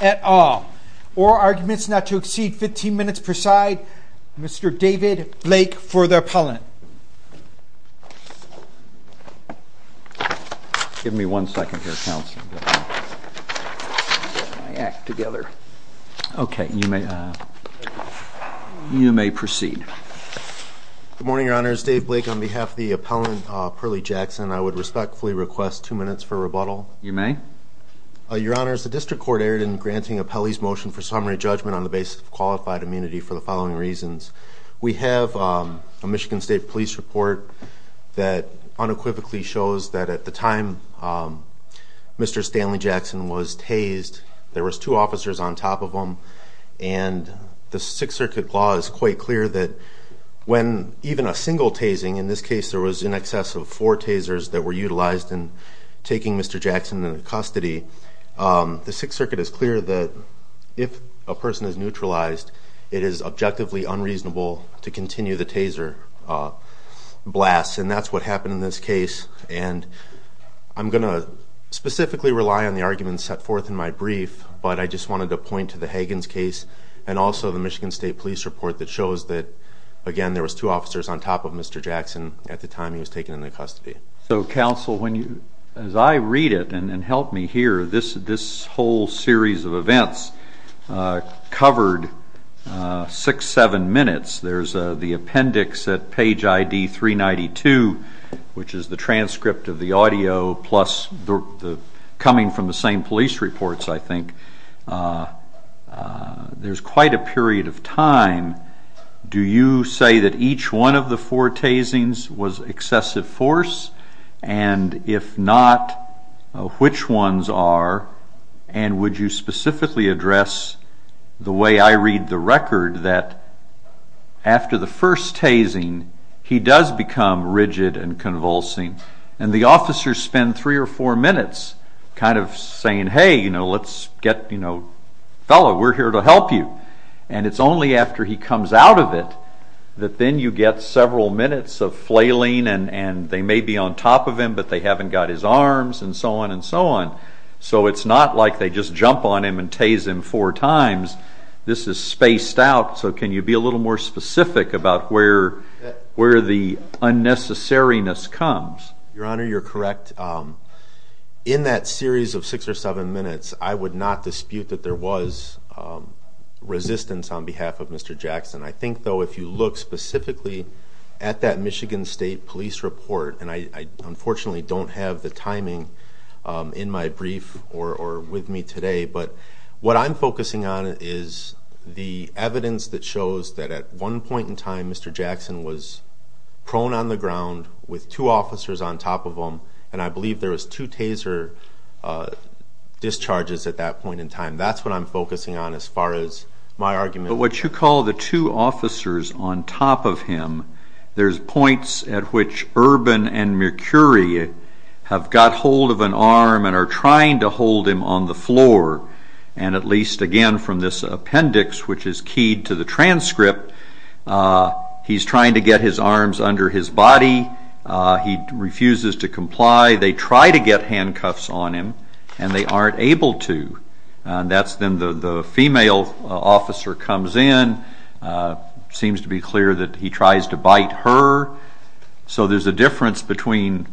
at all. Or arguments not to exceed 15 minutes per side. Mr. David Blake for the appellant. Give me one second here, counsel. Get my act together. Okay, you may proceed. Good morning, your honors. Dave Blake on behalf of the appellant Perlie Jackson. I would respectfully request two minutes for rebuttal. You may. Your honors, the district court erred in granting appellee's motion for summary judgment on the basis of qualified immunity for the following reasons. We have a Michigan State Police report that unequivocally shows that at the time Mr. Stanley Jackson was tased, there was two officers on top of him. And the Sixth Circuit law is quite clear that when even a single tasing, in this case there was in excess of four tasers that were utilized in taking Mr. Jackson into custody, the Sixth Circuit is clear that if a person is neutralized, it is objectively unreasonable to continue the taser blast. And that's what happened in this case. And I'm going to specifically rely on the arguments set forth in my brief, but I just wanted to point to the Hagins case, and also the Michigan State Police report that shows that, again, there was two officers on top of Mr. Jackson at the time he was taken into custody. So, counsel, as I read it, and help me here, this whole series of events covered six, seven minutes. There's the appendix at page ID 392, which is the transcript of the audio, plus coming from the same police reports, I think. There's quite a period of time. Do you say that each one of the four tasings was excessive force? And if not, which ones are? And would you specifically address the way I read the record that after the first tasing, he does become rigid and convulsing? And the officers spend three or four minutes kind of saying, hey, you know, let's get, you know, fellow, we're here to help you. And it's only after he comes out of it that then you get several minutes of flailing and they may be on top of him, but they haven't got his arms and so on and so on. So it's not like they just jump on him and tase him four times. This is spaced out, so can you be a little more specific about where the unnecessariness comes? Your Honor, you're correct. In that series of six or seven minutes, I would not dispute that there was resistance on behalf of Mr. Jackson. I think, though, if you look specifically at that Michigan State Police report, and I unfortunately don't have the timing in my brief or with me today, but what I'm focusing on is the evidence that shows that at one point in time, Mr. Jackson was prone on the ground with two officers on top of him, and I believe there was two taser discharges at that point in time. That's what I'm focusing on as far as my argument. But what you call the two officers on top of him, there's points at which Urban and Mercuri have got hold of an arm and are trying to hold him on the floor, and at least, again, from this appendix, which is keyed to the transcript, he's trying to get his arms under his body, he refuses to comply, they try to get handcuffs on him, and they aren't able to. Then the female officer comes in, seems to be clear that he tries to bite her, so there's a difference between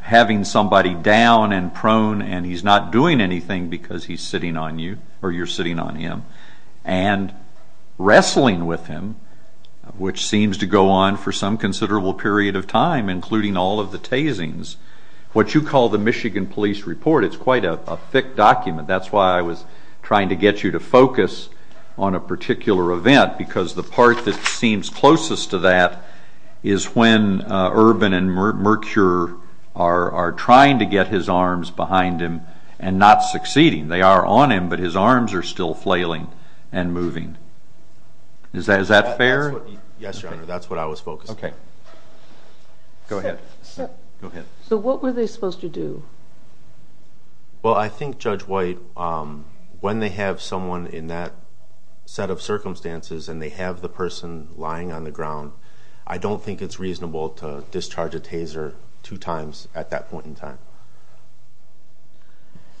having somebody down and prone and he's not doing anything because he's sitting on you, or you're sitting on him, and wrestling with him, which seems to go on for some considerable period of time, including all of the tasings. What you call the Michigan Police Report, it's quite a thick document. That's why I was trying to get you to focus on a particular event, because the part that seems closest to that is when Urban and Mercuri are trying to get his arms behind him and not succeeding. They are on him, but his arms are still flailing and moving. Is that fair? Yes, Your Honor, that's what I was focusing on. Go ahead. So what were they supposed to do? Well, I think, Judge White, when they have someone in that set of circumstances and they have the person lying on the ground, I don't think it's reasonable to discharge a taser two times at that point in time.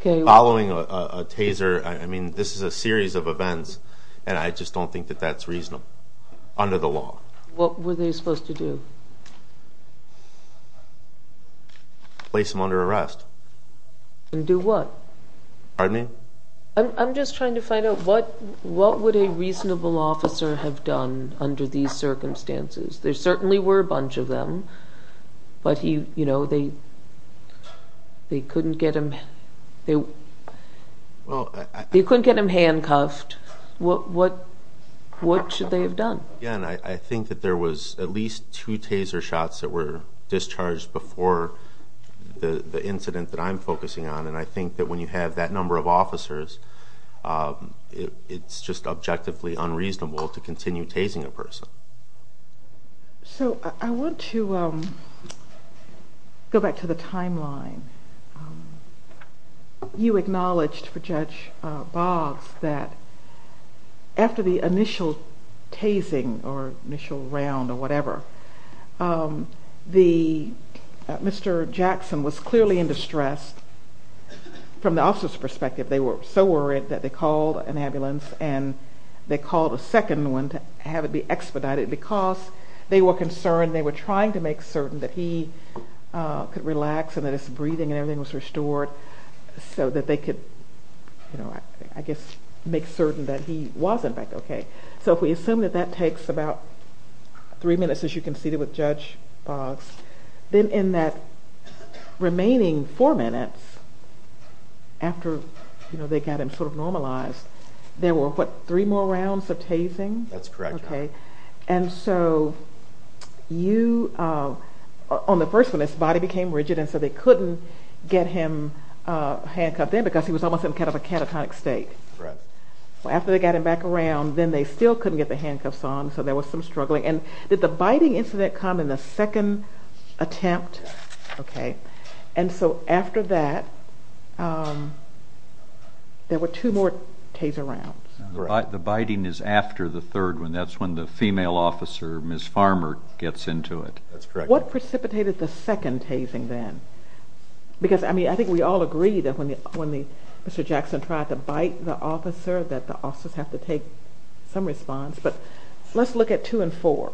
Following a taser, I mean, this is a series of events, and I just don't think that that's reasonable under the law. What were they supposed to do? Place him under arrest. And do what? Pardon me? I'm just trying to find out what would a reasonable officer have done under these circumstances. There certainly were a bunch of them, but they couldn't get him handcuffed. What should they have done? Again, I think that there was at least two taser shots that were discharged before the incident that I'm focusing on, and I think that when you have that number of officers, it's just objectively unreasonable to continue tasing a person. So I want to go back to the timeline. You acknowledged for Judge Boggs that after the initial tasing or initial round or whatever, Mr. Jackson was clearly in distress from the officer's perspective. They were so worried that they called an ambulance, and they called a second one to have it be expedited because they were concerned. They were trying to make certain that he could relax and that his breathing and everything was restored so that they could, I guess, make certain that he wasn't back okay. So if we assume that that takes about three minutes, as you conceded with Judge Boggs, then in that remaining four minutes after they got him sort of normalized, there were, what, three more rounds of tasing? That's correct, Your Honor. Okay. And so you, on the first one, his body became rigid, and so they couldn't get him handcuffed in because he was almost in kind of a catatonic state. Right. After they got him back around, then they still couldn't get the handcuffs on, so there was some struggling. And did the biting incident come in the second attempt? Yes. Okay. And so after that, there were two more taser rounds. The biting is after the third one. That's when the female officer, Ms. Farmer, gets into it. That's correct. What precipitated the second tasing then? Because, I mean, I think we all agree that when Mr. Jackson tried to bite the officer that the officers have to take some response, but let's look at two and four.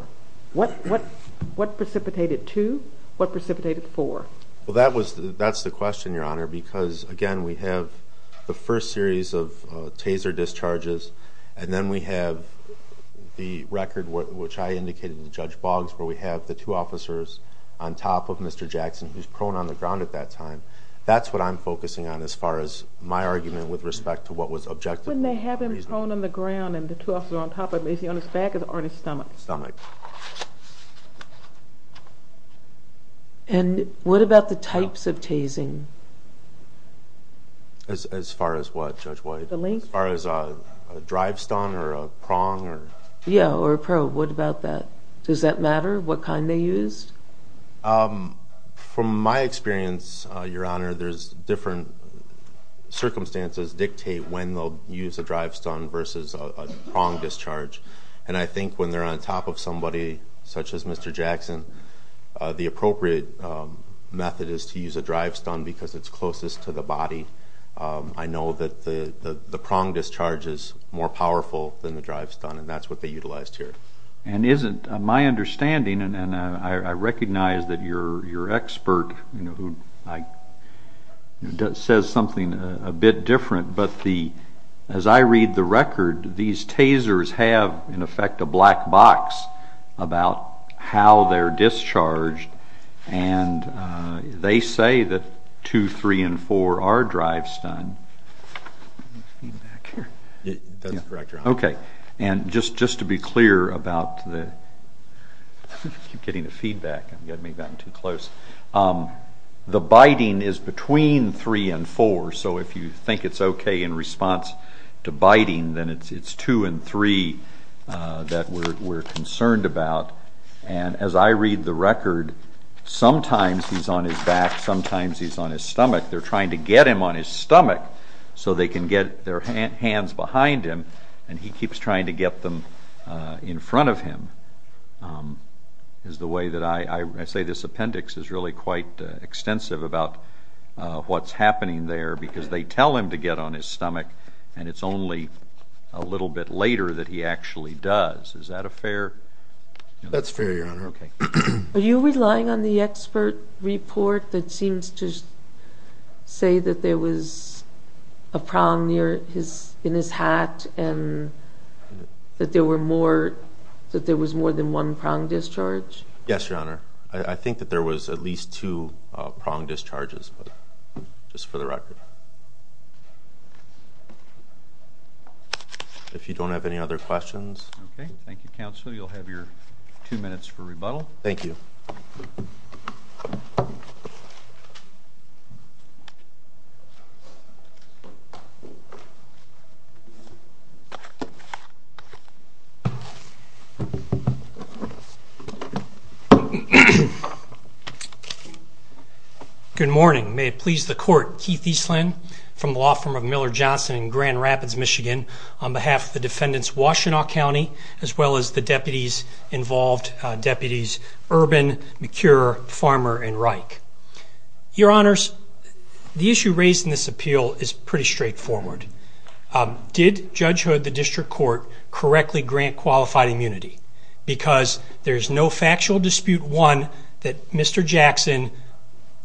What precipitated two? What precipitated four? Well, that's the question, Your Honor, because, again, we have the first series of taser discharges, and then we have the record, which I indicated to Judge Boggs, where we have the two officers on top of Mr. Jackson, who's prone on the ground at that time. That's what I'm focusing on as far as my argument with respect to what was objective. When they have him prone on the ground and the two officers on top of him, is he on his back or on his stomach? Stomach. Stomach. And what about the types of tasing? As far as what, Judge White? The length? As far as a drive stun or a prong? Yeah, or a probe. What about that? Does that matter what kind they used? From my experience, Your Honor, there's different circumstances dictate when they'll use a drive stun versus a prong discharge, and I think when they're on top of somebody such as Mr. Jackson, the appropriate method is to use a drive stun because it's closest to the body. I know that the prong discharge is more powerful than the drive stun, and that's what they utilized here. And isn't my understanding, and I recognize that you're an expert who says something a bit different, but as I read the record, these tasers have, in effect, a black box about how they're discharged, and they say that two, three, and four are drive stun. Any feedback here? That's correct, Your Honor. Okay. And just to be clear about theóI keep getting the feedback. I may have gotten too close. The biting is between three and four, so if you think it's okay in response to biting, then it's two and three that we're concerned about. And as I read the record, sometimes he's on his back, sometimes he's on his stomach. They're trying to get him on his stomach so they can get their hands behind him, and he keeps trying to get them in front of him, is the way that I say this appendix is really quite extensive about what's happening there because they tell him to get on his stomach, and it's only a little bit later that he actually does. Is that a fairó That's fair, Your Honor. Okay. Are you relying on the expert report that seems to say that there was a prong in his hat and that there was more than one prong discharge? Yes, Your Honor. I think that there was at least two prong discharges, just for the record. If you don't have any other questionsó Okay. Thank you, Counsel. You'll have your two minutes for rebuttal. Thank you. Good morning. May it please the Court. Keith Eastland from the law firm of Miller Johnson in Grand Rapids, Michigan, on behalf of the defendants, Washtenaw County, as well as the deputies involved, deputies Urban, McCure, Farmer, and Reich. Your Honors, the issue raised in this appeal is pretty straightforward. Did Judge O'Rourke, the defendant, correctly grant qualified immunity? Because there is no factual dispute, one, that Mr. Jackson,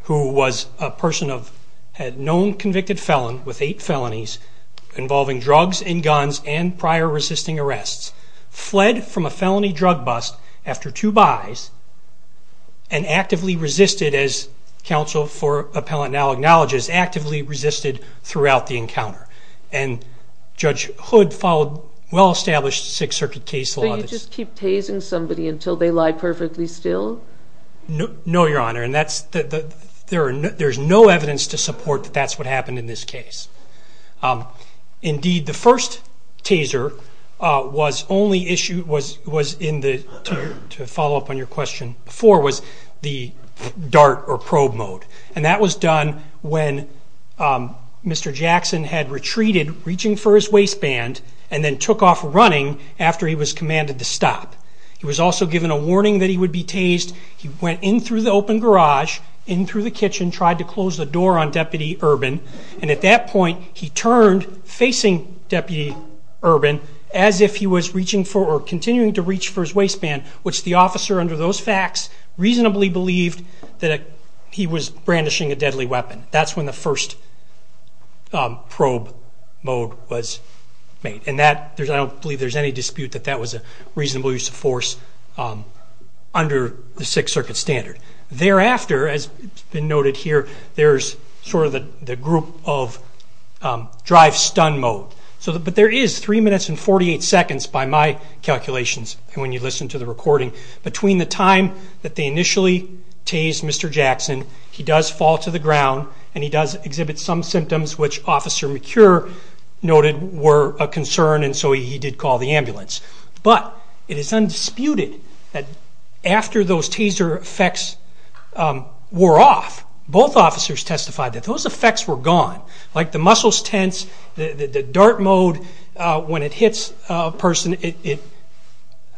who was a person of a known convicted felon with eight felonies involving drugs and guns and prior resisting arrests, fled from a felony drug bust after two buys and actively resisted, as counsel for appellant now acknowledges, actively resisted throughout the encounter. And Judge Hood followed well-established Sixth Circuit case lawó So you just keep tasing somebody until they lie perfectly still? No, Your Honor. And there's no evidence to support that that's what happened in this case. Indeed, the first taser was only issuedóto follow up on your question beforeó was the dart or probe mode. And that was done when Mr. Jackson had retreated, reaching for his waistband, and then took off running after he was commanded to stop. He was also given a warning that he would be tased. He went in through the open garage, in through the kitchen, tried to close the door on Deputy Urban. And at that point, he turned, facing Deputy Urban, as if he was reaching for or continuing to reach for his waistband, which the officer, under those facts, reasonably believed that he was brandishing a deadly weapon. That's when the first probe mode was made. And I don't believe there's any dispute that that was a reasonable use of force under the Sixth Circuit standard. Thereafter, as has been noted here, there's sort of the group of drive-stun mode. But there is three minutes and 48 seconds, by my calculations, when you listen to the recording. Between the time that they initially tased Mr. Jackson, he does fall to the ground and he does exhibit some symptoms, which Officer McCure noted were a concern, and so he did call the ambulance. But it is undisputed that after those taser effects wore off, both officers testified that those effects were gone. Like the muscles tense, the dart mode, when it hits a person,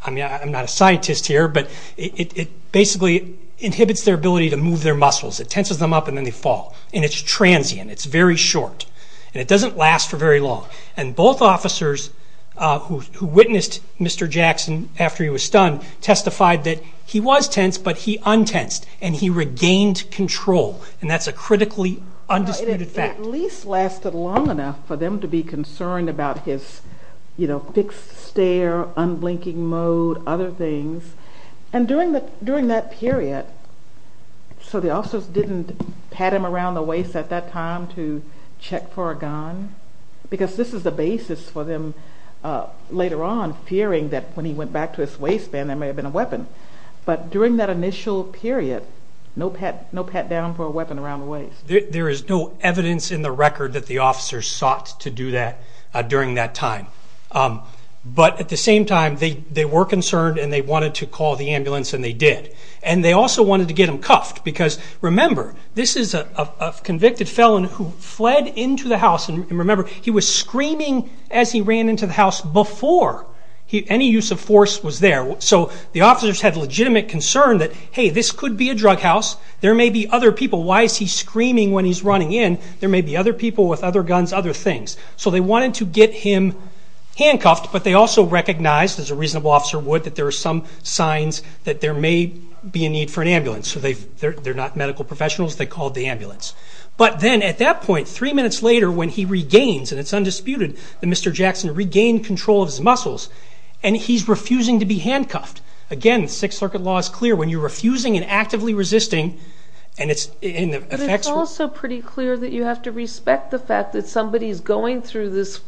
I'm not a scientist here, but it basically inhibits their ability to move their muscles. It tenses them up and then they fall. And it's transient, it's very short, and it doesn't last for very long. And both officers who witnessed Mr. Jackson after he was stunned testified that he was tense, but he untensed, and he regained control. And that's a critically undisputed fact. The release lasted long enough for them to be concerned about his fixed stare, unblinking mode, other things. And during that period, so the officers didn't pat him around the waist at that time to check for a gun, because this is the basis for them later on fearing that when he went back to his waistband there may have been a weapon. But during that initial period, no pat down for a weapon around the waist. There is no evidence in the record that the officers sought to do that during that time. But at the same time, they were concerned and they wanted to call the ambulance and they did. And they also wanted to get him cuffed, because remember, this is a convicted felon who fled into the house. And remember, he was screaming as he ran into the house before any use of force was there. So the officers had legitimate concern that, hey, this could be a drug house, there may be other people. Why is he screaming when he's running in? There may be other people with other guns, other things. So they wanted to get him handcuffed, but they also recognized, as a reasonable officer would, that there are some signs that there may be a need for an ambulance. So they're not medical professionals. They called the ambulance. But then at that point, three minutes later, when he regains, and it's undisputed that Mr. Jackson regained control of his muscles, and he's refusing to be handcuffed. Again, the Sixth Circuit law is clear. When you're refusing and actively resisting, and it's in effect... But it's also pretty clear that you have to respect the fact that somebody is going through this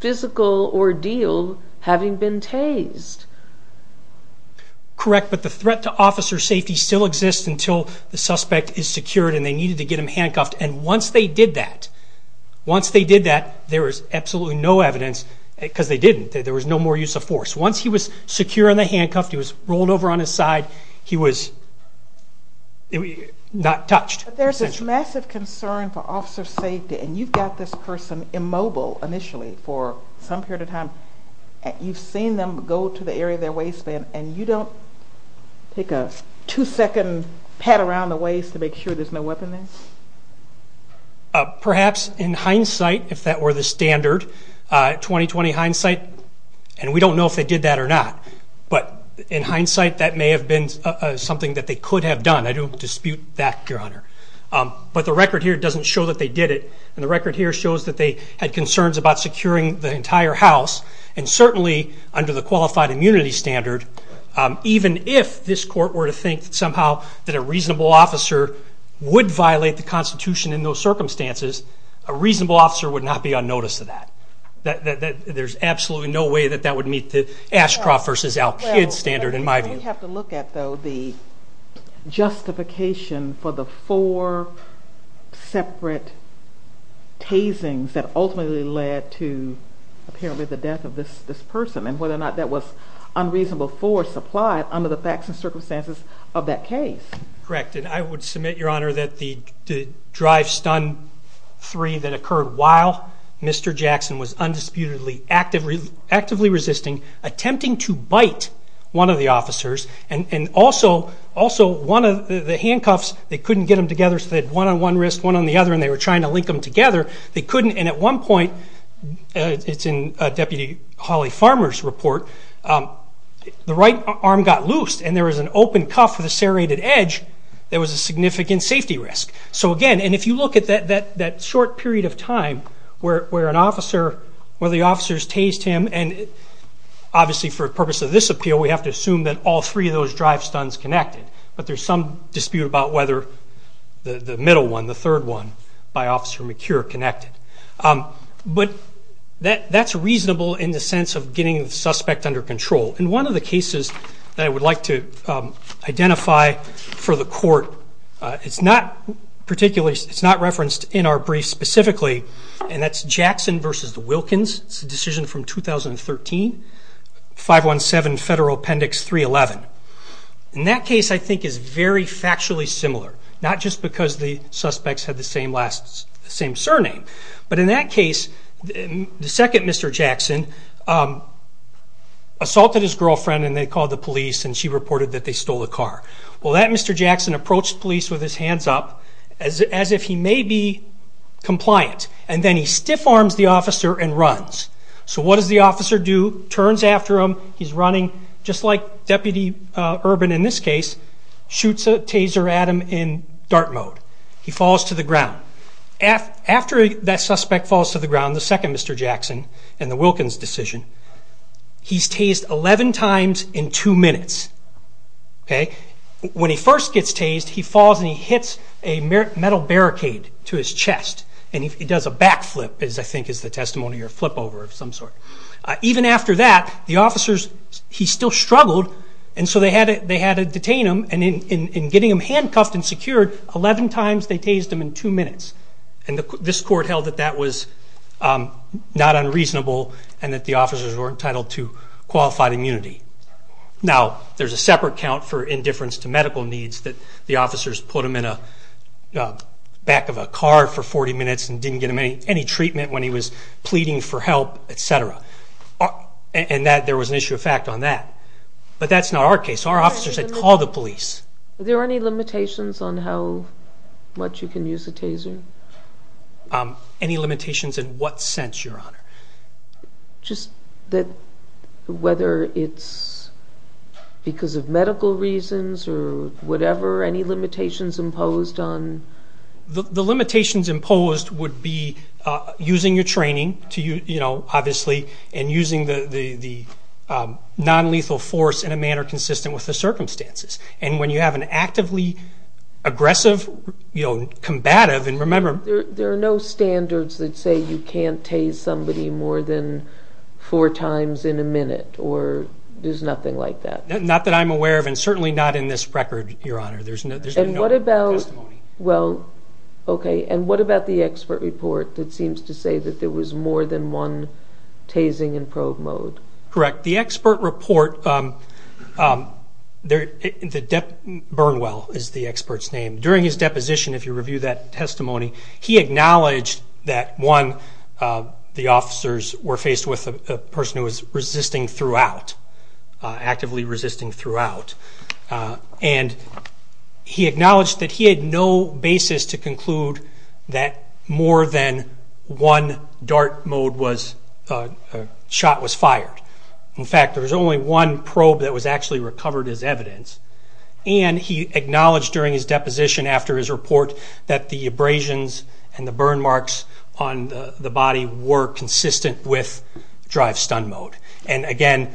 physical ordeal having been tased. Correct, but the threat to officer safety still exists until the suspect is secured and they needed to get him handcuffed. And once they did that, there was absolutely no evidence, because they didn't, there was no more use of force. Once he was secure and handcuffed, he was rolled over on his side, he was not touched. But there's this massive concern for officer safety, and you've got this person immobile initially for some period of time. You've seen them go to the area of their waistband, and you don't take a two-second pat around the waist to make sure there's no weapon there? Perhaps in hindsight, if that were the standard 2020 hindsight, and we don't know if they did that or not, but in hindsight that may have been something that they could have done. I don't dispute that, Your Honor. But the record here doesn't show that they did it, and the record here shows that they had concerns about securing the entire house, and certainly under the qualified immunity standard, even if this court were to think somehow that a reasonable officer would violate the Constitution in those circumstances, a reasonable officer would not be on notice of that. There's absolutely no way that that would meet the Ashcroft v. Al-Kid standard, in my view. We have to look at, though, the justification for the four separate tasings that ultimately led to apparently the death of this person and whether or not that was unreasonable force applied under the facts and circumstances of that case. Correct, and I would submit, Your Honor, that the drive-stun three that occurred while Mr. Jackson was undisputedly actively resisting, attempting to bite one of the officers, and also one of the handcuffs, they couldn't get them together, so they had one on one wrist, one on the other, and they were trying to link them together. They couldn't, and at one point, it's in Deputy Holly Farmer's report, the right arm got loose, and there was an open cuff with a serrated edge that was a significant safety risk. So again, and if you look at that short period of time where the officers tased him, and obviously for the purpose of this appeal, we have to assume that all three of those drive-stuns connected, but there's some dispute about whether the middle one, the third one, by Officer McCure connected. But that's reasonable in the sense of getting the suspect under control. In one of the cases that I would like to identify for the court, it's not referenced in our brief specifically, and that's Jackson versus the Wilkins. It's a decision from 2013, 517 Federal Appendix 311. In that case, I think it's very factually similar, not just because the suspects had the same surname, but in that case, the second Mr. Jackson assaulted his girlfriend and they called the police and she reported that they stole a car. Well, that Mr. Jackson approached police with his hands up as if he may be compliant, and then he stiff-arms the officer and runs. So what does the officer do? Turns after him, he's running, just like Deputy Urban in this case, shoots a taser at him in dart mode. He falls to the ground. After that suspect falls to the ground, the second Mr. Jackson and the Wilkins decision, he's tased 11 times in two minutes. When he first gets tased, he falls and he hits a metal barricade to his chest and he does a back flip, I think is the testimony, or a flip over of some sort. Even after that, the officers, he still struggled, and so they had to detain him, and in getting him handcuffed and secured, 11 times they tased him in two minutes. And this court held that that was not unreasonable and that the officers weren't entitled to qualified immunity. Now, there's a separate count for indifference to medical needs that the officers put him in the back of a car for 40 minutes and didn't get him any treatment when he was pleading for help, etc. And there was an issue of fact on that. But that's not our case. Our officers had called the police. Are there any limitations on how much you can use a taser? Any limitations in what sense, Your Honor? Just that whether it's because of medical reasons or whatever, any limitations imposed on? The limitations imposed would be using your training, obviously, and using the nonlethal force in a manner consistent with the circumstances. And when you have an actively aggressive, combative, and remember- There are no standards that say you can't tase somebody more than four times in a minute, or there's nothing like that. Not that I'm aware of, and certainly not in this record, Your Honor. There's been no testimony. Well, okay. And what about the expert report that seems to say that there was more than one tasing in probe mode? Correct. The expert report, Burnwell is the expert's name. During his deposition, if you review that testimony, he acknowledged that, one, the officers were faced with a person who was resisting throughout, actively resisting throughout. And he acknowledged that he had no basis to conclude that more than one dart mode shot was fired. In fact, there was only one probe that was actually recovered as evidence. And he acknowledged during his deposition after his report that the abrasions and the burn marks on the body were consistent with drive-stun mode. And again,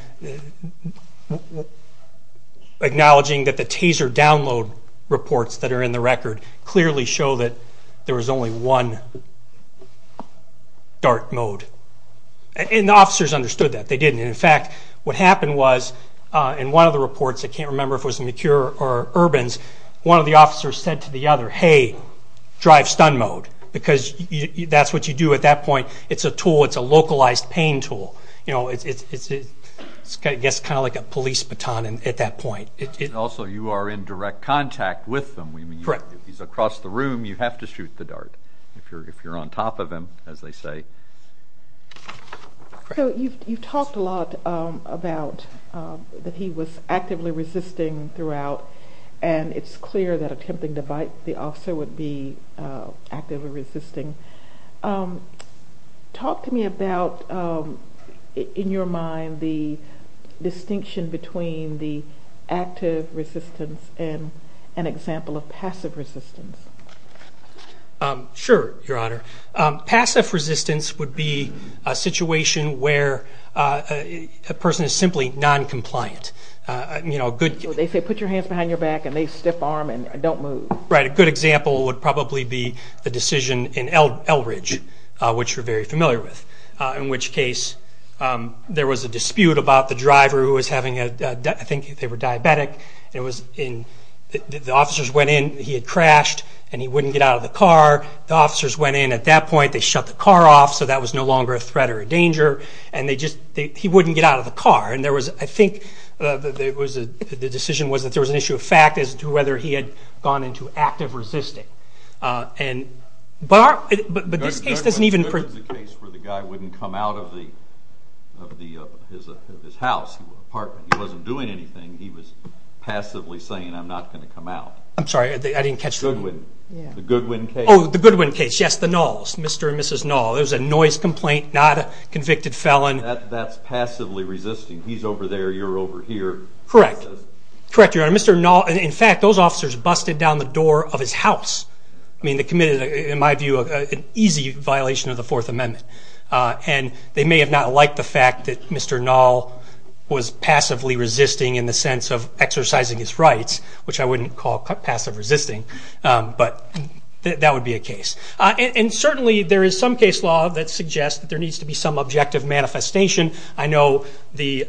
acknowledging that the taser download reports that are in the record clearly show that there was only one dart mode. And the officers understood that. They didn't. And, in fact, what happened was in one of the reports, I can't remember if it was McHugh or Urbans, one of the officers said to the other, hey, drive-stun mode because that's what you do at that point. It's a tool. It's a localized pain tool. It gets kind of like a police baton at that point. And also you are in direct contact with them. Correct. If he's across the room, you have to shoot the dart. If you're on top of him, as they say. So you've talked a lot about that he was actively resisting throughout, and it's clear that attempting to bite the officer would be actively resisting. Talk to me about, in your mind, the distinction between the active resistance and an example of passive resistance. Sure, Your Honor. Passive resistance would be a situation where a person is simply noncompliant. They say put your hands behind your back, and they stiff arm, and don't move. Right. A good example would probably be the decision in Eldridge, which you're very familiar with, in which case there was a dispute about the driver who was having a, I think they were diabetic, and the officers went in, he had crashed, and he wouldn't get out of the car. The officers went in at that point, they shut the car off, so that was no longer a threat or a danger, and he wouldn't get out of the car. And I think the decision was that there was an issue of fact as to whether he had gone into active resisting. But this case doesn't even... This is a case where the guy wouldn't come out of his house, apartment. He wasn't doing anything. He was passively saying, I'm not going to come out. I'm sorry, I didn't catch the... Goodwin. The Goodwin case. Oh, the Goodwin case. Yes, the Knowles, Mr. and Mrs. Knowles. It was a noise complaint, not a convicted felon. That's passively resisting. He's over there, you're over here. Correct. Correct, Your Honor. Mr. Knowles, in fact, those officers busted down the door of his house. I mean, they committed, in my view, an easy violation of the Fourth Amendment. And they may have not liked the fact that Mr. Knowles was passively resisting in the sense of exercising his rights, which I wouldn't call passive resisting, but that would be a case. And certainly there is some case law that suggests that there needs to be some objective manifestation. I know the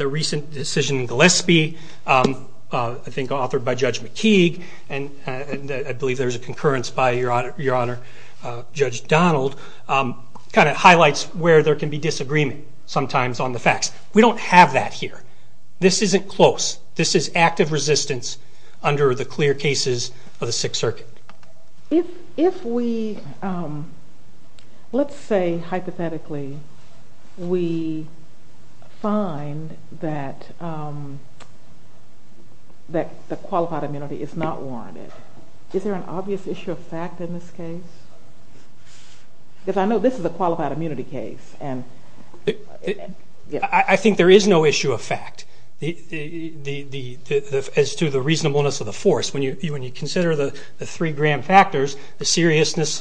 recent decision in Gillespie, I think authored by Judge McKeague, and I believe there's a concurrence by, Your Honor, Judge Donald, kind of highlights where there can be disagreement sometimes on the facts. We don't have that here. This isn't close. This is active resistance under the clear cases of the Sixth Circuit. If we, let's say hypothetically, we find that the qualified immunity is not warranted, is there an obvious issue of fact in this case? Because I know this is a qualified immunity case. I think there is no issue of fact as to the reasonableness of the force. When you consider the three grand factors, the seriousness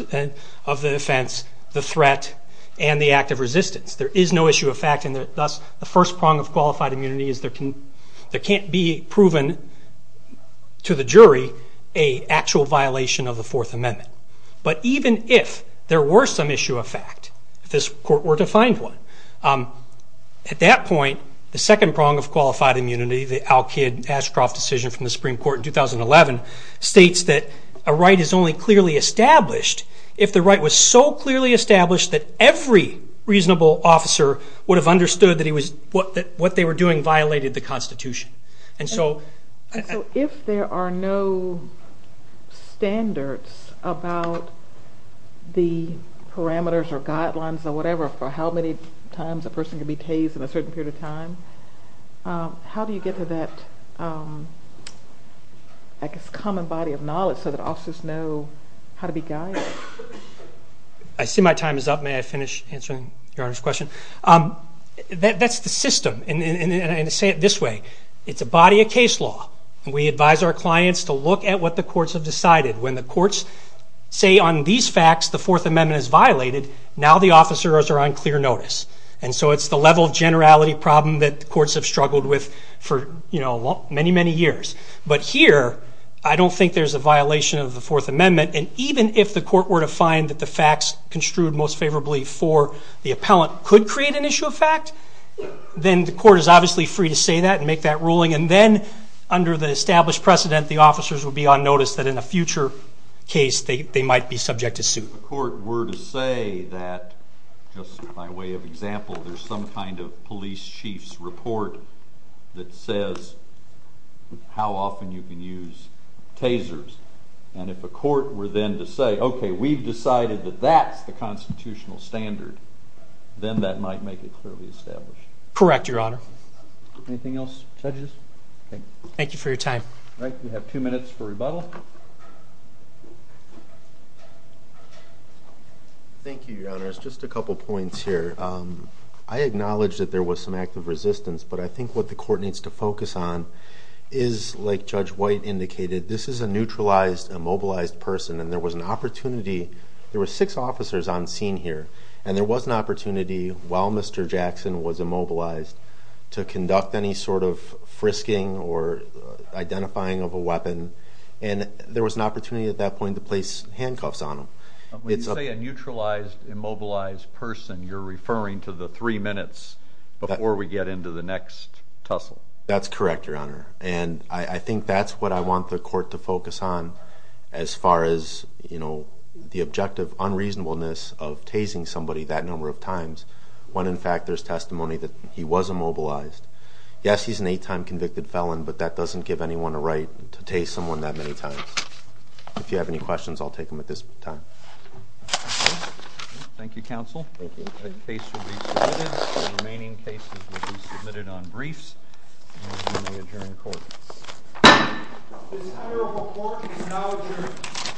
of the offense, the threat, and the act of resistance, there is no issue of fact, and thus the first prong of qualified immunity is there can't be proven to the jury an actual violation of the Fourth Amendment. But even if there were some issue of fact, if this court were to find one, at that point the second prong of qualified immunity, the Al-Kid Ashcroft decision from the Supreme Court in 2011, states that a right is only clearly established if the right was so clearly established that every reasonable officer would have understood that what they were doing violated the Constitution. And so if there are no standards about the parameters or guidelines or whatever for how many times a person can be tased in a certain period of time, how do you get to that, I guess, common body of knowledge so that officers know how to be guided? I see my time is up. May I finish answering Your Honor's question? That's the system, and I say it this way. It's a body of case law. We advise our clients to look at what the courts have decided. When the courts say on these facts the Fourth Amendment is violated, now the officers are on clear notice. And so it's the level of generality problem that the courts have struggled with for many, many years. But here I don't think there's a violation of the Fourth Amendment, and even if the court were to find that the facts construed most favorably for the appellant could create an issue of fact, then the court is obviously free to say that and make that ruling, and then under the established precedent the officers would be on notice that in a future case they might be subject to suit. If the court were to say that, just by way of example, there's some kind of police chief's report that says how often you can use tasers, and if a court were then to say, okay, we've decided that that's the constitutional standard, then that might make it clearly established. Correct, Your Honor. Anything else, judges? All right, we have two minutes for rebuttal. Thank you, Your Honor. Just a couple points here. I acknowledge that there was some active resistance, but I think what the court needs to focus on is, like Judge White indicated, this is a neutralized, immobilized person, and there was an opportunity. There were six officers on scene here, and there was an opportunity while Mr. Jackson was immobilized to conduct any sort of frisking or identifying of a weapon, and there was an opportunity at that point to place handcuffs on him. When you say a neutralized, immobilized person, you're referring to the three minutes before we get into the next tussle. That's correct, Your Honor, and I think that's what I want the court to focus on as far as the objective unreasonableness of tasing somebody that number of times when, in fact, there's testimony that he was immobilized. Yes, he's an eight-time convicted felon, but that doesn't give anyone a right to tase someone that many times. If you have any questions, I'll take them at this time. Thank you, counsel. Thank you. The case will be submitted. The remaining cases will be submitted on briefs, and we will adjourn the court. This kind of report is not adjourned.